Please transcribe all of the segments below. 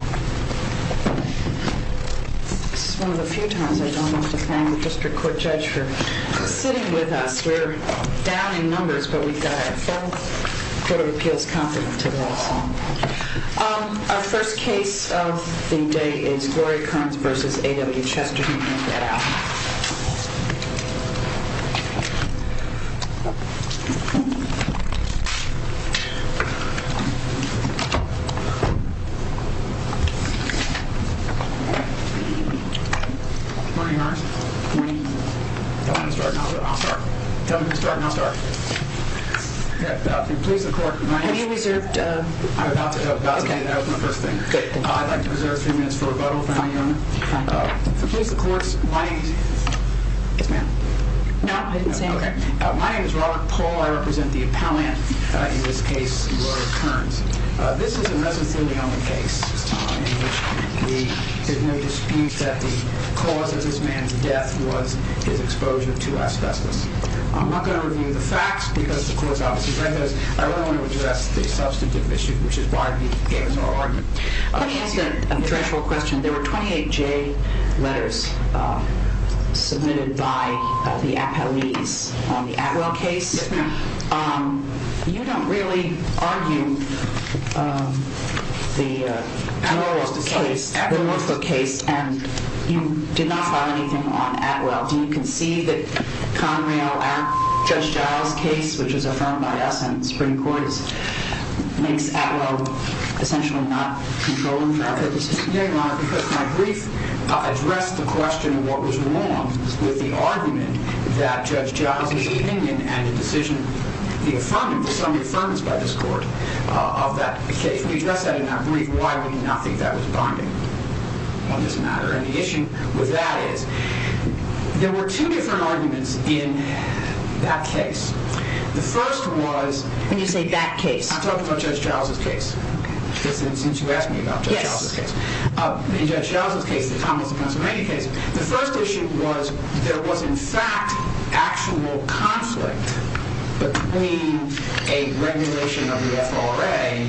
This is one of the few times I don't have to thank a district court judge for sitting with us. We're down in numbers, but we've got a full court of appeals competent to this. Our first case of the day is Gloria Kurns v. AWChesterton. My name is Robert Pohl. I represent the appellant in this case, Gloria Kurns. This is a residency-only case in which there's no dispute that the cause of this man's death was his exposure to asbestos. I'm not going to review the facts because the court is obviously trying to do those. I really want to address the substantive issue, which is why we gave this oral argument. Let me ask a threshold question. There were 28J letters submitted by the appellees on the Atwell case. You don't really argue the Atwell case, and you did not file anything on Atwell. Do you concede that Conrail Act, Judge Giles' case, which is affirmed by us in the Supreme Court, makes Atwell essentially not controllable? No, Your Honor, because my brief addressed the question of what was wrong with the argument that Judge Giles' opinion and the decision, the affirmative, the summary affirmance by this court of that case. We addressed that in that brief. Why would we not think that was bonding on this matter? And the issue with that is there were two different arguments in that case. I'm talking about Judge Giles' case, since you asked me about Judge Giles' case. In Judge Giles' case, the Thomas of Pennsylvania case, the first issue was there was in fact actual conflict between a regulation of the FRA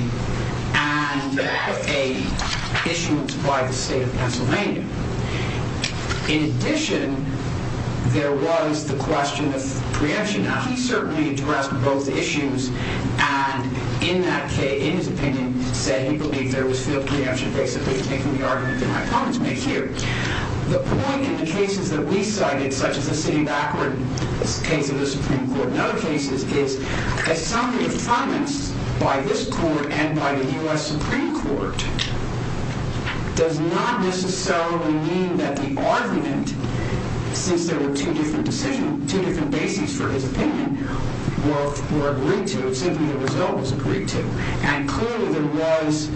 and an issuance by the state of Pennsylvania. In addition, there was the question of preemption. Now, he certainly addressed both issues, and in that case, in his opinion, said he believed there was field preemption, basically, taking the argument that my opponents made here. The point in the cases that we cited, such as the city of Akron case in the Supreme Court and other cases, is that summary affirmance by this court and by the U.S. Supreme Court does not necessarily mean that the argument, since there were two different decisions, two different bases for his opinion, were agreed to. Clearly, there was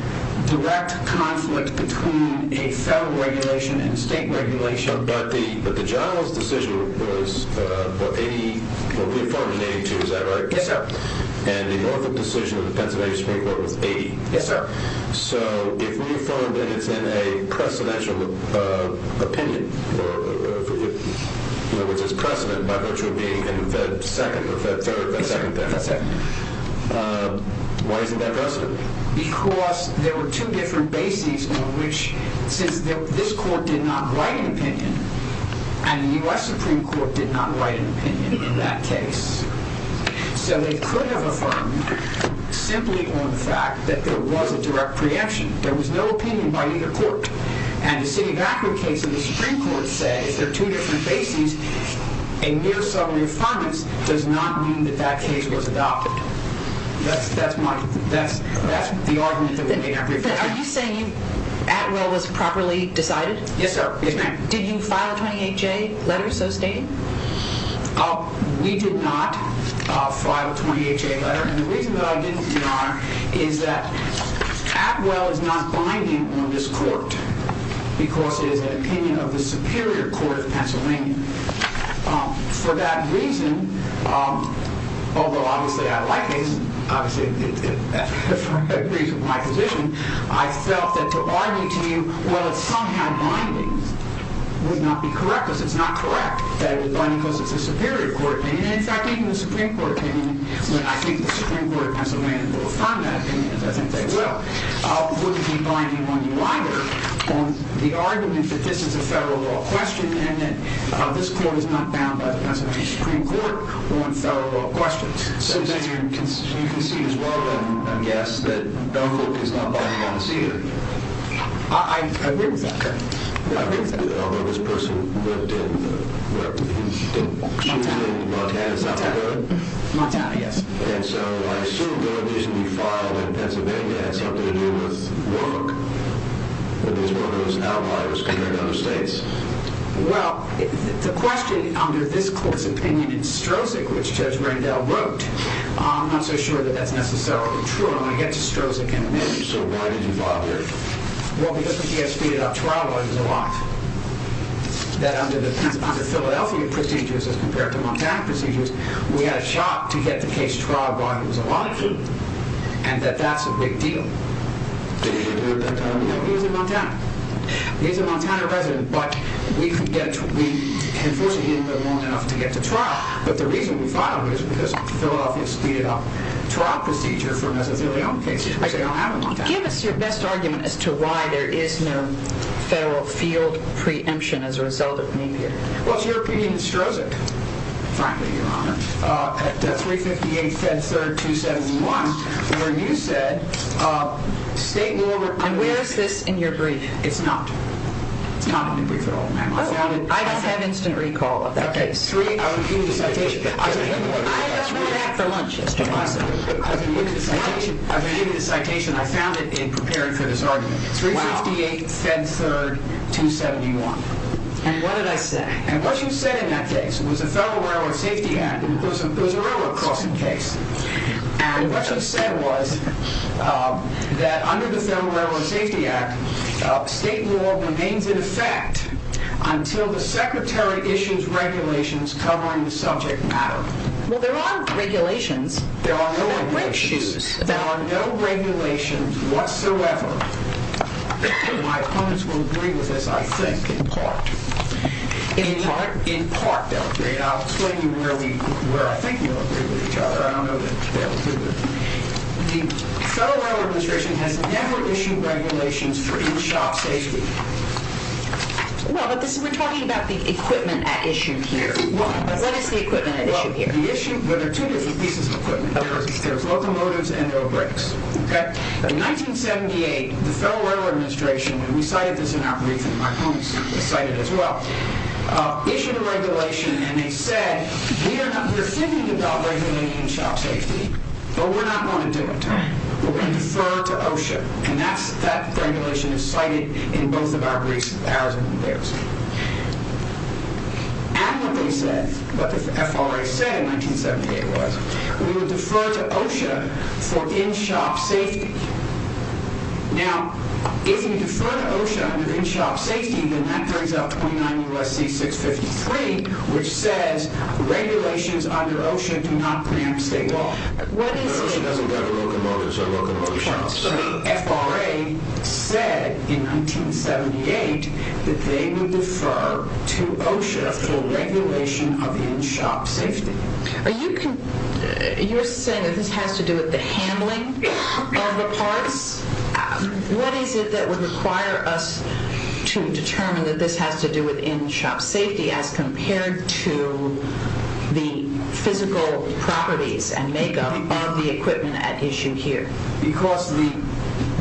direct conflict between a federal regulation and a state regulation. But the Giles' decision was reaffirmed in 1982, is that right? Yes, sir. And the Norfolk decision of the Pennsylvania Supreme Court was in 1980? Yes, sir. So if reaffirmed and it's in a precedential opinion, which is precedent by virtue of being in the second or third, the second thing, why isn't that precedent? Because there were two different bases on which, since this court did not write an opinion and the U.S. Supreme Court did not write an opinion in that case. So they could have affirmed simply on the fact that there was a direct preemption. There was no opinion by either court. And the city of Akron case in the Supreme Court said, if there are two different bases, a mere summary affirmance does not mean that that case was adopted. That's the argument that we made. Are you saying Atwell was properly decided? Yes, ma'am. Did you file a 28-J letter so stating? We did not file a 28-J letter. And the reason that I didn't, Your Honor, is that Atwell is not binding on this court because it is an opinion of the Superior Court of Pennsylvania. For that reason, although obviously I agree with my position, I felt that the argument to you, well, it's somehow binding, would not be correct because it's not correct that it was binding because it's a Superior Court opinion. In fact, even the Supreme Court opinion, and I think the Supreme Court has a way to affirm that opinion, as I think they will, wouldn't be binding on you either. On the argument that this is a federal law question and that this court is not bound by the Pennsylvania Supreme Court on federal law questions. So you can see as well, I guess, that Oak is not binding on the city. I agree with that, Your Honor. I agree with that. Although this person lived in, well, he did choose in Montana, is that correct? Montana, yes. And so I assume the reason you filed in Pennsylvania had something to do with work, that this work was outliers compared to other states. Well, the question under this court's opinion in Strozik, which Judge Rendell wrote, I'm not so sure that that's necessarily true. I'm going to get to Strozik in a minute. So why did you file here? Well, because he had speeded up trial lawyers a lot. That under Philadelphia procedures, as compared to Montana procedures, we had a shot to get the case trial by who was alive. And that that's a big deal. Did he live in Montana? No, he was in Montana. He's a Montana resident, but we can force him in, but not enough to get to trial. But the reason we filed him is because Philadelphia speeded up trial procedure for Mesothelioma cases. Give us your best argument as to why there is no federal field preemption as a result of me being here. Well, it's your opinion in Strozik, frankly, Your Honor, at 358 Fed 3rd 271, where you said state law requires... And where is this in your brief? It's not. It's not in the brief at all, ma'am. I just have instant recall of that case. I asked for that for lunch yesterday. I was going to give you the citation. I found it in preparing for this argument. Wow. 358 Fed 3rd 271. And what did I say? And what you said in that case was a Federal Railroad Safety Act. It was a railroad crossing case. And what you said was that under the Federal Railroad Safety Act, state law remains in effect until the Secretary issues regulations covering the subject matter. Well, there are regulations. There are no regulations. There are no regulations. There are no regulations whatsoever. My opponents will agree with this, I think, in part. In part? In part, Your Honor. I'll explain to you where I think you'll agree with each other. I don't know that they'll agree with me. The Federal Railroad Administration has never issued regulations for in-shop safety. Well, but we're talking about the equipment at issue here. What is the equipment at issue here? Well, there are two different pieces of equipment. There are locomotives and there are brakes. In 1978, the Federal Railroad Administration, and we cited this in our brief and my opponents cited it as well, issued a regulation and they said, we're thinking about regulating in-shop safety, but we're not going to do it. We're going to defer to OSHA. And that regulation is cited in both of our briefs, ours and theirs. And what they said, what the FRA said in 1978 was, we would defer to OSHA for in-shop safety. Now, if we defer to OSHA under in-shop safety, then that brings up 29 U.S.C. 653, which says, regulations under OSHA do not preempt state law. OSHA doesn't have locomotives or locomotive shops. So the FRA said in 1978 that they would defer to OSHA for regulation of in-shop safety. Are you saying that this has to do with the handling of the parts? What is it that would require us to determine that this has to do with in-shop safety as compared to the physical properties and makeup of the equipment at issue here? Because the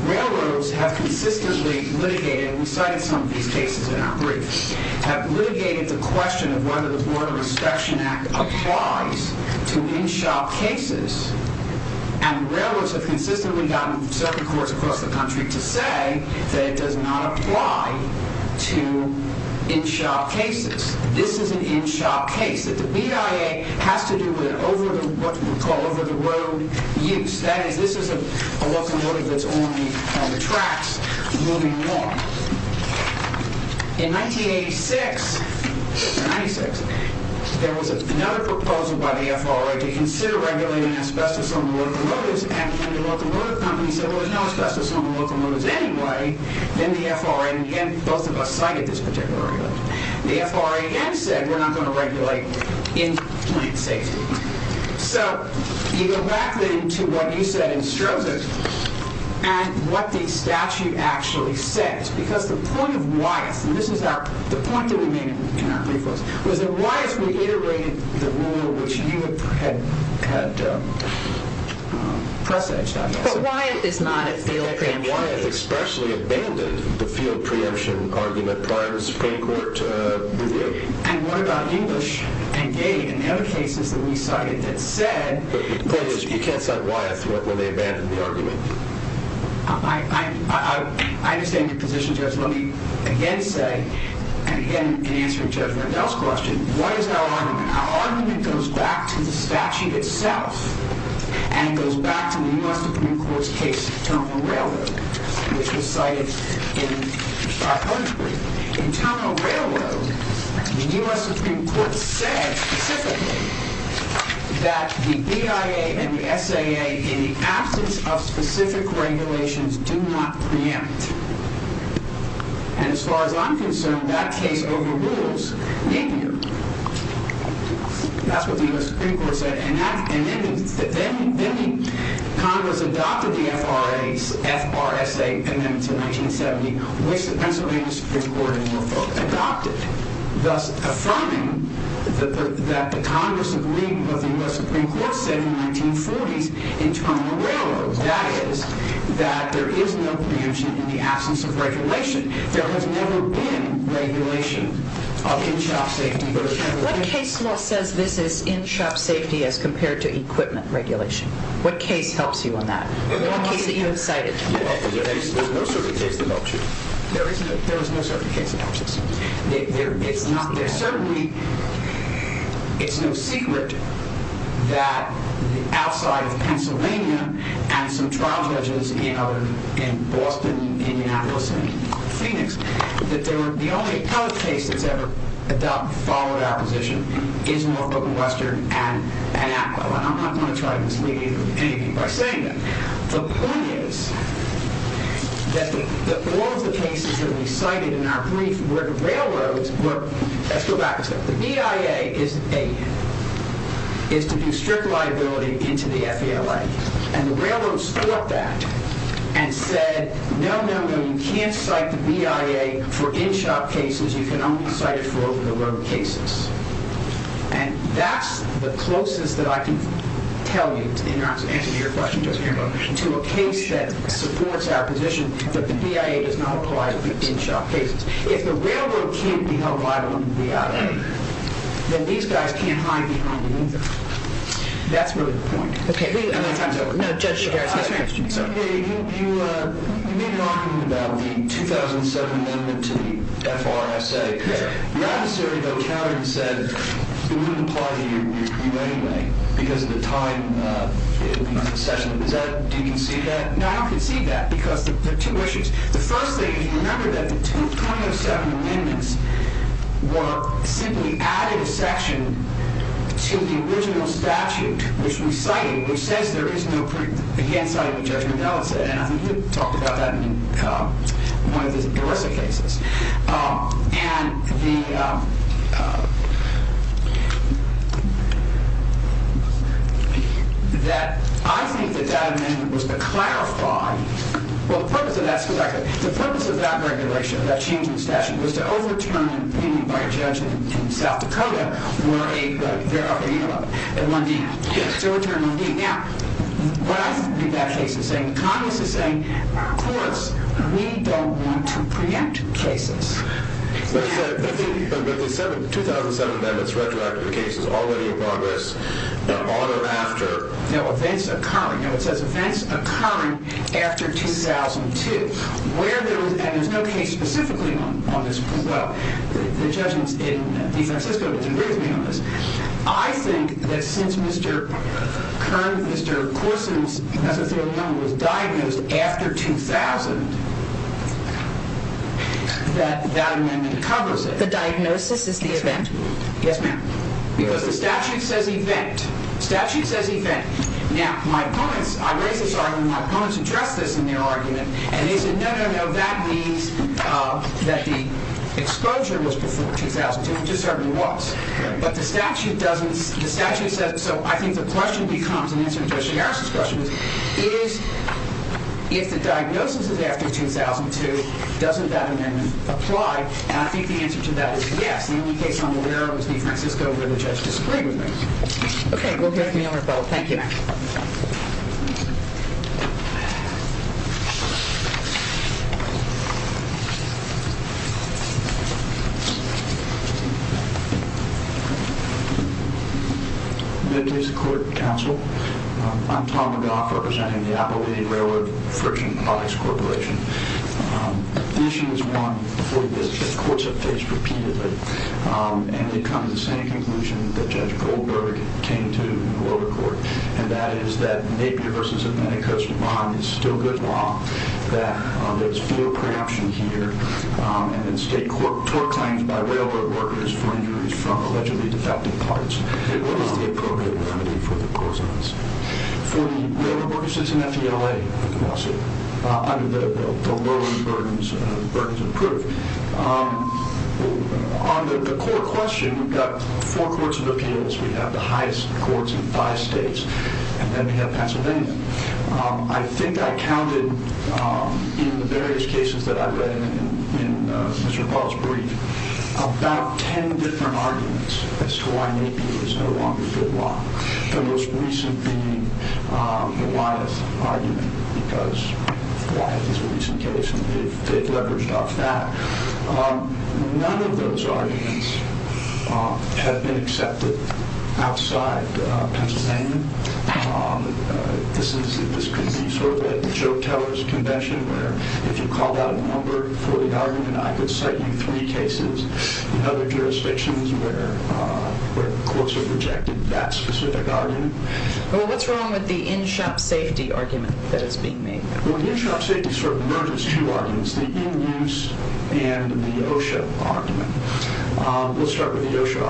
railroads have consistently litigated, and we cited some of these cases in our briefs, have litigated the question of whether the Border Inspection Act applies to in-shop cases. And railroads have consistently gotten circuit courts across the country to say that it does not apply to in-shop cases. This is an in-shop case. The BIA has to do with what we call over-the-road use. That is, this is a locomotive that's on the tracks moving along. In 1986, there was another proposal by the FRA to consider regulating asbestos on locomotives, and when the locomotive company said, well, there's no asbestos on the locomotives anyway, then the FRA, and again, both of us cited this particular regulation, the FRA again said, we're not going to regulate in-plant safety. So you go back, then, to what you said in Strozen and what the statute actually says, because the point of Wyeth, and this is the point that we made in our brief was that Wyeth reiterated the rule which you had presaged, I guess. But Wyeth is not a field preemption. Wyeth expressly abandoned the field preemption argument prior to the Supreme Court review. And what about English and Gaye and the other cases that we cited that said... But you can't cite Wyeth when they abandoned the argument. I understand your position, Judge. Let me again say, and again, in answering Judge Rendell's question, what is our argument? Our argument goes back to the statute itself, and it goes back to the U.S. Supreme Court's case, Terminal Railroad, which was cited in our brief. In Terminal Railroad, the U.S. Supreme Court said specifically that the BIA and the SAA, in the absence of specific regulations, do not preempt. And as far as I'm concerned, that case overrules NAPIER. That's what the U.S. Supreme Court said. Then Congress adopted the FRSA amendments in 1970, which the Pennsylvania Supreme Court adopted, thus affirming that the Congress of the League of the U.S. Supreme Court said in the 1940s in Terminal Railroad, that is, that there is no preemption in the absence of regulation. There has never been regulation of in-shop safety. What case law says this is in-shop safety as compared to equipment regulation? What case helps you on that? The one case that you have cited. There's no certain case that helps you. There is no certain case that helps us. It's no secret that outside of Pennsylvania and some trial judges in Boston, Indianapolis, and Phoenix, that the only other case that's ever adopted, followed our position, is Norfolk and Western and APPO. And I'm not going to try to mislead you with anything by saying that. The point is that all of the cases that we cited in our brief were to railroads. Let's go back a step. The BIA is to do strict liability into the FALA. And the railroads fought that and said, no, no, no. You can't cite the BIA for in-shop cases. You can only cite it for over-the-road cases. And that's the closest that I can tell you, in answer to your question, to a case that supports our position that the BIA does not apply to in-shop cases. If the railroad can't be held liable in the BIA, then these guys can't hide behind the window. That's really the point. Okay. No, Judge, you can ask the next question. You made an argument about the 2007 amendment to the FRSA. Your adversary, though, countered and said it wouldn't apply to you anyway because of the time concession. Do you concede that? No, I don't concede that because there are two issues. The first thing is, remember that the 2007 amendments were simply added a section to the original statute, which we cited, which says there is no proof against the judgment of Ellison. And I think you talked about that in one of the ERISA cases. And I think that that amendment was to clarify, well, the purpose of that regulation, that change in statute, was to overturn an opinion by a judge in South Dakota where there are, you know, a 1D. Yes. To overturn 1D. Now, what I think that case is saying, Congress is saying, of course, we don't want to preempt cases. But the 2007 amendments retroactive case is already in progress on or after? No, events occurring. No, it says events occurring after 2002. And there's no case specifically on this. Well, the judgments in DeFrancisco didn't agree with me on this. I think that since Mr. Kern, Mr. Corson was diagnosed after 2000, that that amendment covers it. The diagnosis is the event? Yes, ma'am. Because the statute says event. Statute says event. Now, my opponents, I raise this argument, my opponents addressed this in their argument, and they said, no, no, no, that means that the exposure was before 2002, which it certainly was. But the statute doesn't, the statute says, so I think the question becomes, in answer to Mr. Harris' question, is if the diagnosis is after 2002, doesn't that amendment apply? And I think the answer to that is yes. The only case I'm aware of is DeFrancisco where the judge disagreed with me. Okay. We'll hear from you on the phone. Thank you. Meditation Court, counsel. I'm Tom McGough representing the Appalachian Railroad Friction Products Corporation. The issue is one that courts have faced repeatedly, and it comes to the same conclusion that Judge Goldberg came to in the lower court, and that is that Napier v. Amenicus bond is still good law, that there's full preemption here, and in state court, tort claims by railroad workers for injuries from allegedly defective parts. What is the appropriate remedy for the prosons? For the railroad workers, it's an FDLA lawsuit under the lower burdens of proof. On the court question, we've got four courts of appeals. We have the highest courts in five states, and then we have Pennsylvania. I think I counted in the various cases that I read in Mr. Paul's brief about ten different arguments as to why Napier is no longer good law. The most recent being the Wyeth argument because Wyeth is a recent case, and they've leveraged off that. None of those arguments have been accepted outside Pennsylvania. This could be sort of like Joe Teller's convention, where if you called out a number for the argument, I could cite you three cases in other jurisdictions where courts have rejected that specific argument. Well, what's wrong with the in-shop safety argument that is being made? Well, the in-shop safety sort of merges two arguments, the in-use and the OSHA argument. Let's start with the OSHA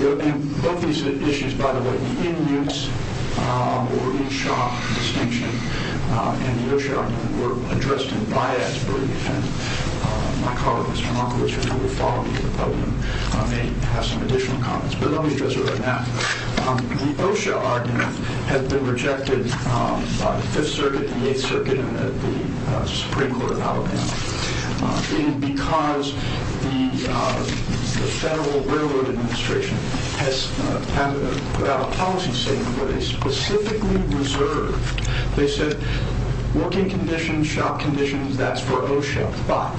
argument. Both these issues, by the way, the in-use or in-shop distinction and the OSHA argument, were addressed in Wyeth's brief, and my colleague, Mr. Markowitz, who will follow me in the podium, may have some additional comments, but let me address it right now. The OSHA argument has been rejected by the Fifth Circuit, the Eighth Circuit, and the Supreme Court of Alabama because the Federal Railroad Administration has put out a policy statement that is specifically reserved. They said working conditions, shop conditions, that's for OSHA, but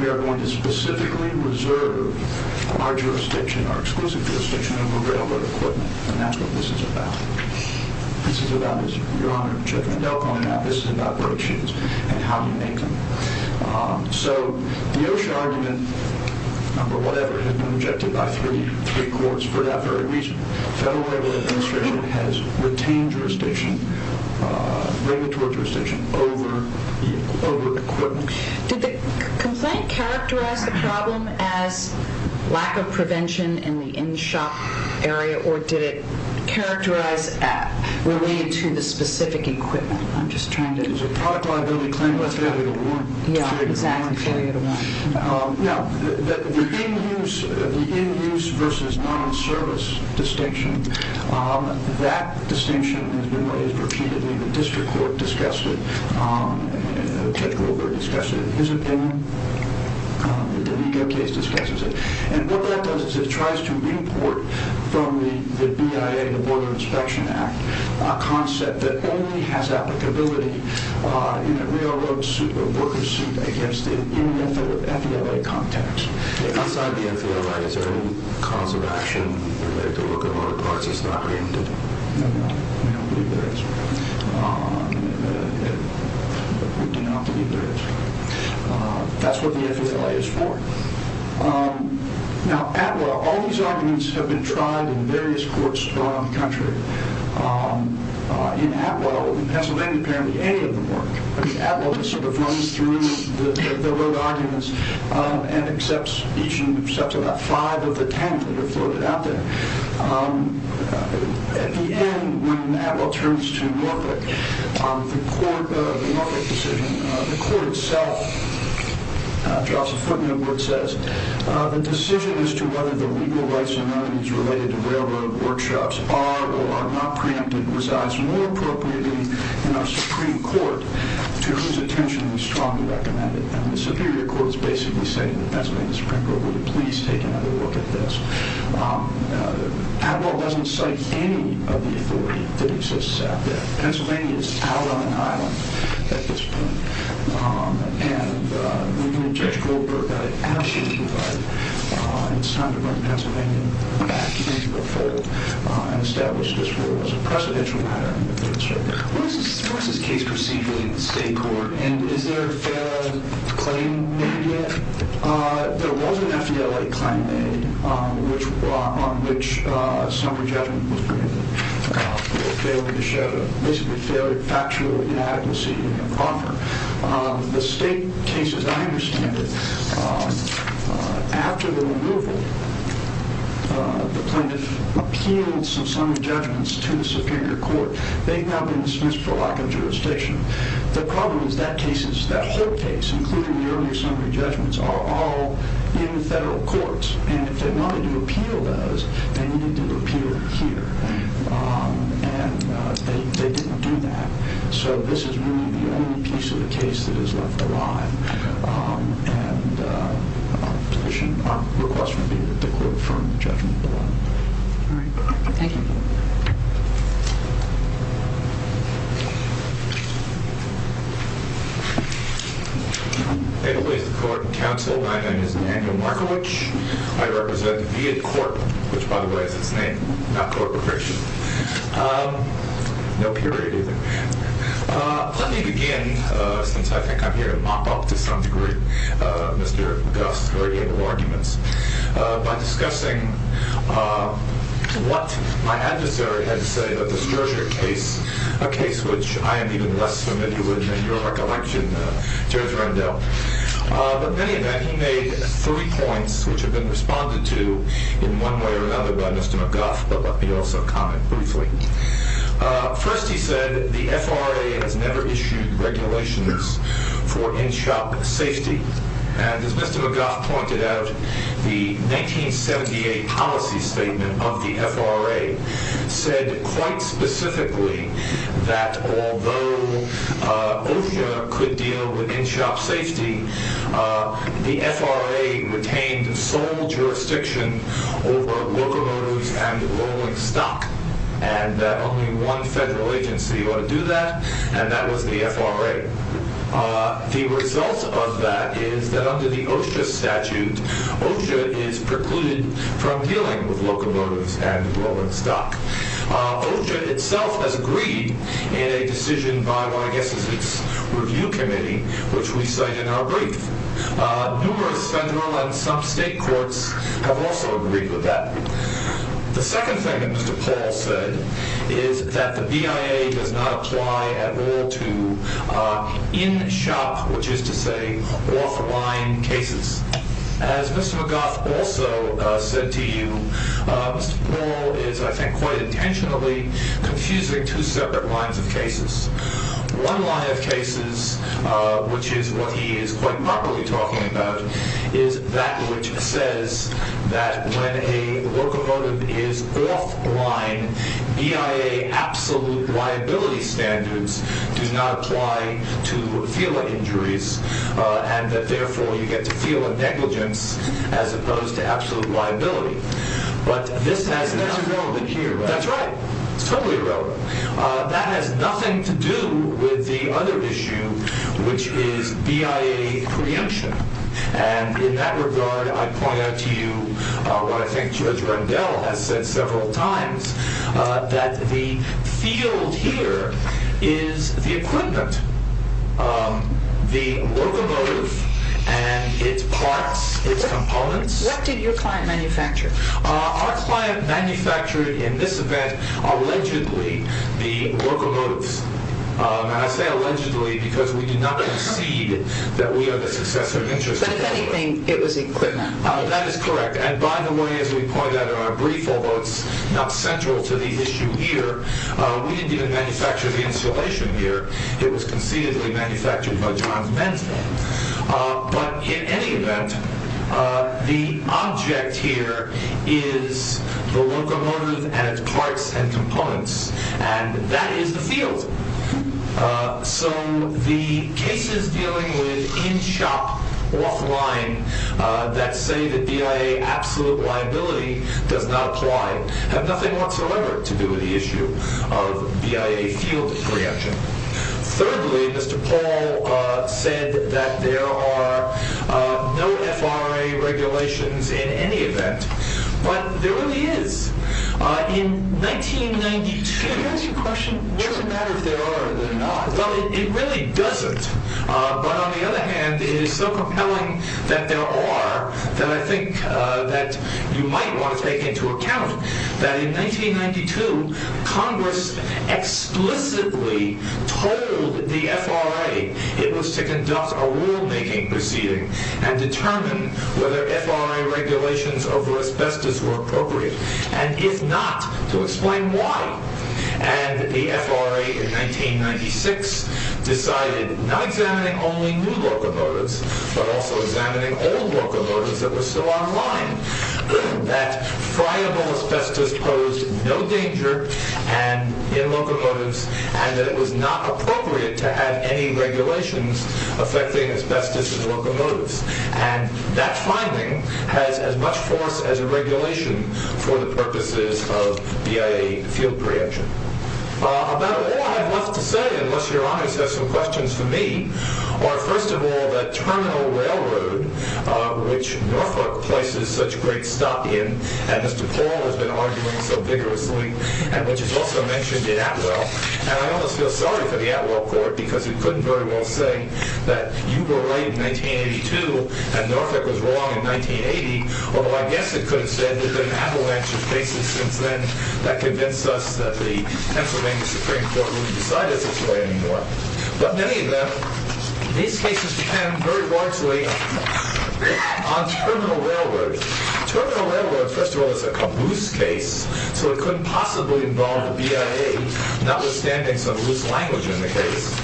we are going to specifically reserve our jurisdiction, our exclusive jurisdiction, over railroad equipment, and that's what this is about. This is about, as Your Honor, Judge Mandel called it out, this is about broke shoes and how you make them. So the OSHA argument, number whatever, has been rejected by three courts for that very reason. The Federal Railroad Administration has retained jurisdiction, regulatory jurisdiction, over equipment. Did the complaint characterize the problem as lack of prevention in the in-shop area, or did it characterize it related to the specific equipment? I'm just trying to... It was a product liability claim with failure to warn. Yeah, exactly. Failure to warn. Now, the in-use versus non-service distinction, that distinction has been raised repeatedly. The district court discussed it. Judge Goldberg discussed it in his opinion. The legal case discusses it. And what that does is it tries to report from the BIA, the Border Inspection Act, a concept that only has applicability in a railroad worker's suit against it in an FBLA context. Outside the FBLA, is there any cause of action related to locomotive parts that's not preempted? No, no. We don't believe there is. We do not believe there is. That's what the FBLA is for. Now, ATWA, all these arguments have been tried in various courts around the country. In ATWA, in Pennsylvania, apparently any of them work. I mean, ATWA just sort of runs through the railroad arguments and accepts each and accepts about five of the ten that are floated out there. At the end, when ATWA turns to Norfolk, the Norfolk decision, the court itself drops a footnote where it says, the decision as to whether the legal rights or non-rights related to railroad workshops are or are not preempted resides more appropriately in our Supreme Court, to whose attention we strongly recommend it. The Superior Court is basically saying to the Pennsylvania Supreme Court, would you please take another look at this. ATWA doesn't cite any of the authority that exists out there. Pennsylvania is out on an island at this point. And we believe Judge Goldberg got it absolutely right. It's time to bring Pennsylvania back into the fold and establish this rule as a precedential matter in the third circuit. What is this case proceeding in the state court? And is there a fair claim made yet? There was an FDLA claim made on which summary judgment was preempted for a failure to show, basically a failure of factual inadequacy of offer. The state case, as I understand it, after the removal, the plaintiff appealed some summary judgments to the Superior Court. They've now been dismissed for lack of jurisdiction. The problem is that case, that whole case, including the earlier summary judgments, are all in the federal courts. And if they wanted to appeal those, they needed to appeal here. And they didn't do that. So this is really the only piece of the case that is left alive. And our request would be that the court affirm the judgment below. All right. Thank you. My name is Daniel Markovich. I represent the Viet Corp, which, by the way, is its name, not corporation. No period either. Let me begin, since I think I'm here to mop up, to some degree, Mr. Gust's radiant arguments, by discussing what my adversary had to say about this Georgia case, a case which I am even less familiar with than your recollection, Judge Rendell. But in any event, he made three points, which have been responded to in one way or another by Mr. McGough. But let me also comment briefly. First, he said the FRA has never issued regulations for in-shop safety. And as Mr. McGough pointed out, the 1978 policy statement of the FRA said quite specifically that although OSHA could deal with in-shop safety, the FRA retained sole jurisdiction over locomotives and rolling stock, and that only one federal agency ought to do that, and that was the FRA. The result of that is that under the OSHA statute, OSHA is precluded from dealing with locomotives and rolling stock. OSHA itself has agreed in a decision by what I guess is its review committee, which we cite in our brief. Numerous federal and some state courts have also agreed with that. The second thing that Mr. Paul said is that the BIA does not apply at all to in-shop, which is to say off-line, cases. As Mr. McGough also said to you, Mr. Paul is, I think, quite intentionally confusing two separate lines of cases. One line of cases, which is what he is quite properly talking about, is that which says that when a locomotive is off-line, BIA absolute liability standards do not apply to FILA injuries, and that therefore you get to feel a negligence as opposed to absolute liability. But this has nothing to do with the other issue, which is BIA preemption. And in that regard, I point out to you what I think Judge Rendell has said several times, that the field here is the equipment, the locomotive and its parts, its components. What did your client manufacture? Our client manufactured in this event allegedly the locomotives. And I say allegedly because we did not concede that we are the successor of interest. But if anything, it was equipment. That is correct. And by the way, as we pointed out in our brief, although it's not central to the issue here, we didn't even manufacture the installation here. It was concededly manufactured by John's men's name. But in any event, the object here is the locomotive and its parts and components. And that is the field. So the cases dealing with in-shop, offline that say that BIA absolute liability does not apply have nothing whatsoever to do with the issue of BIA field preemption. Thirdly, Mr. Paul said that there are no FRA regulations in any event. But there really is. In 1992... Can I ask you a question? Sure. Does it matter if there are or there are not? Well, it really doesn't. But on the other hand, it is so compelling that there are, that I think that you might want to take into account that in 1992, Congress explicitly told the FRA it was to conduct a rule-making proceeding and determine whether FRA regulations over asbestos were appropriate. And if not, to explain why. And the FRA in 1996 decided, not examining only new locomotives, but also examining old locomotives that were still online, that friable asbestos posed no danger in locomotives and that it was not appropriate to have any regulations affecting asbestos in locomotives. And that finding has as much force as a regulation for the purposes of BIA field preemption. About all I have left to say, unless Your Honor has some questions for me, are first of all that Terminal Railroad, which Norfolk places such great stock in, and Mr. Paul has been arguing so vigorously, and which is also mentioned in Atwell, and I almost feel sorry for the Atwell Court because it couldn't very well say that you were right in 1982 and Norfolk was wrong in 1980, although I guess it could have said that there have been avalanche of cases since then that convinced us that the Pennsylvania Supreme Court wouldn't decide it this way anymore. But many of them, these cases depend very largely on Terminal Railroad. Terminal Railroad, first of all, is a caboose case, so it couldn't possibly involve a BIA, notwithstanding some loose language in the case.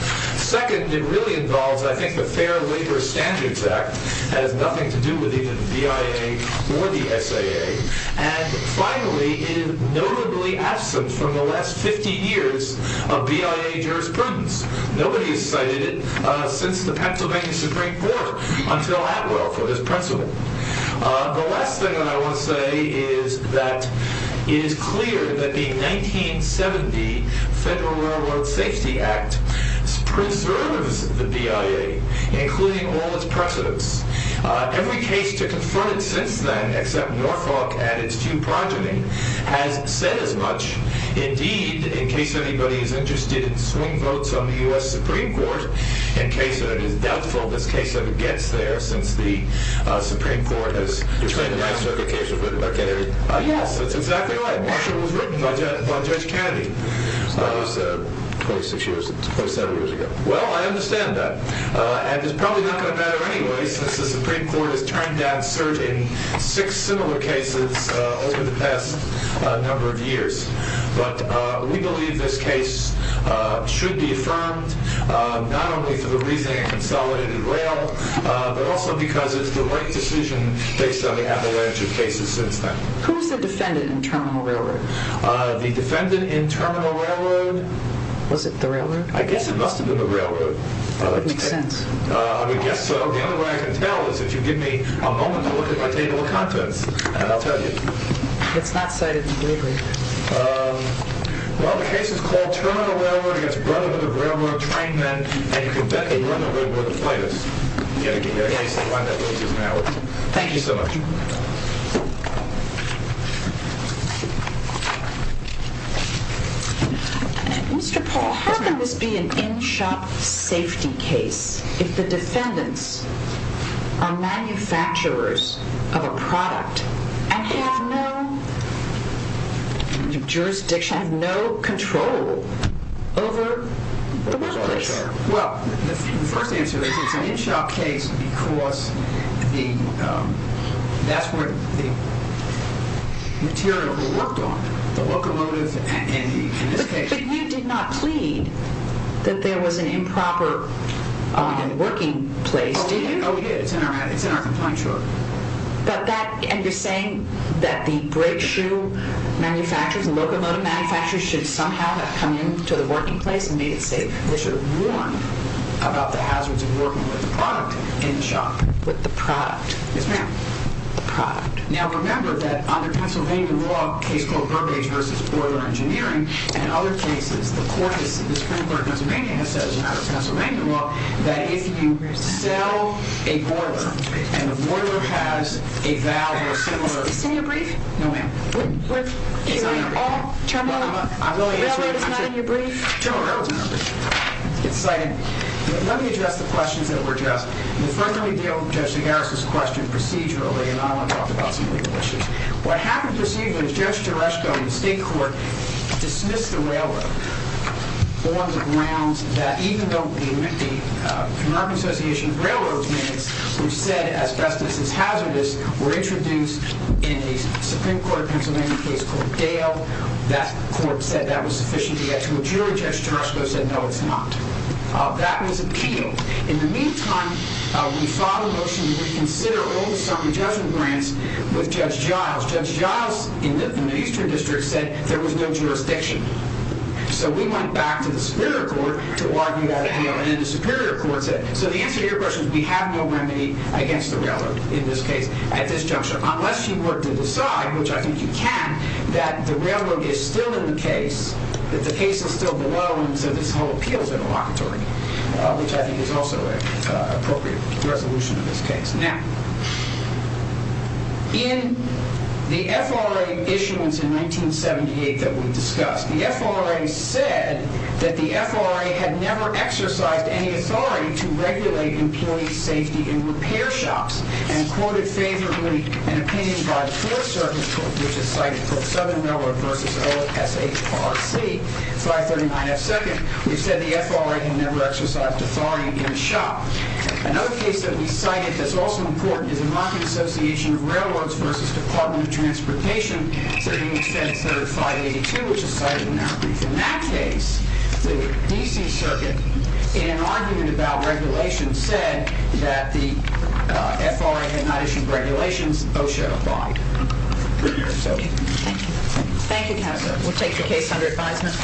Second, it really involves, I think, the Fair Labor Standards Act. It has nothing to do with even BIA or the SAA. And finally, it is notably absent from the last 50 years of BIA jurisprudence. Nobody has cited it since the Pennsylvania Supreme Court until Atwell for this principle. The last thing that I want to say is that it is clear that the 1970 Federal Railroad Safety Act preserves the BIA, including all its precedents. Every case to confront it since then, except Norfolk and its two progeny, has said as much. Indeed, in case anybody is interested, swing votes on the U.S. Supreme Court. In case it is doubtful this case ever gets there since the Supreme Court has… You're saying the last circuit case was written by Kennedy? Yes, that's exactly right. Marshall was written by Judge Kennedy. That was 26 years, 27 years ago. Well, I understand that. And it's probably not going to matter anyway, since the Supreme Court has turned down six similar cases over the past number of years. But we believe this case should be affirmed, not only for the reason it consolidated rail, but also because it's the right decision based on the avalanche of cases since then. Who is the defendant in Terminal Railroad? The defendant in Terminal Railroad… Was it the railroad? I guess it must have been the railroad. That makes sense. I would guess so. The only way I can tell is if you give me a moment to look at my table of contents, and I'll tell you. It's not cited in the brief. Well, the case is called Terminal Railroad against Brethren of the Railroad, Train Men, and you can bet they run the railroad to play this. Thank you so much. Mr. Paul, how can this be an in-shop safety case if the defendants are manufacturers of a product and have no jurisdiction, have no control over the workplace? Well, the first answer is it's an in-shop case because that's where the material worked on, the locomotives and the… But you did not plead that there was an improper working place, did you? Oh, we did. It's in our complaint short. And you're saying that the brake shoe manufacturers and locomotive manufacturers should somehow have come into the working place and made it safe. They should have warned about the hazards of working with the product in the shop. With the product? Yes, ma'am. The product. Now, remember that under Pennsylvania law, a case called Burbage v. Boiler Engineering, and other cases, the Supreme Court of Pennsylvania has said, as a matter of Pennsylvania law, that if you sell a boiler and the boiler has a valve or a similar… Is this in your brief? No, ma'am. Is all Terminal Railroad not in your brief? Terminal Railroad is not in my brief. It's cited. Let me address the questions that were addressed. The first one we dealt with Judge Zagaras' question procedurally, and I want to talk about some legal issues. What happened procedurally is Judge Jaresko in the state court dismissed the railroad on the grounds that, even though the American Association of Railroad Men who said asbestos is hazardous were introduced in a Supreme Court of Pennsylvania case called Dale, that court said that was sufficient to get to a jury. Judge Jaresko said, no, it's not. That was appealed. In the meantime, we filed a motion to reconsider old summer judgment grants with Judge Giles. Judge Giles in the Eastern District said there was no jurisdiction. So we went back to the Superior Court to argue that appeal, and then the Superior Court said, so the answer to your question is we have no remedy against the railroad, in this case, at this juncture, unless you work to decide, which I think you can, that the railroad is still in the case, that the case is still below, and so this whole appeal is inelocatory, which I think is also an appropriate resolution in this case. Now, in the FRA issuance in 1978 that we discussed, the FRA said that the FRA had never exercised any authority to regulate employee safety in repair shops, and quoted favorably an opinion by the Fourth Circuit, which is cited for Southern Railroad v. SHRC, 539F2nd, which said the FRA had never exercised authority in a shop. Another case that we cited that's also important is the Mocking Association of Railroads v. Department of Transportation, sitting in Senate 3582, which is cited in our brief. In that case, the DC Circuit, in an argument about regulation, said that the FRA had not issued regulations. Those show up wrong. Thank you. Thank you, counsel. We'll take the case under advisement.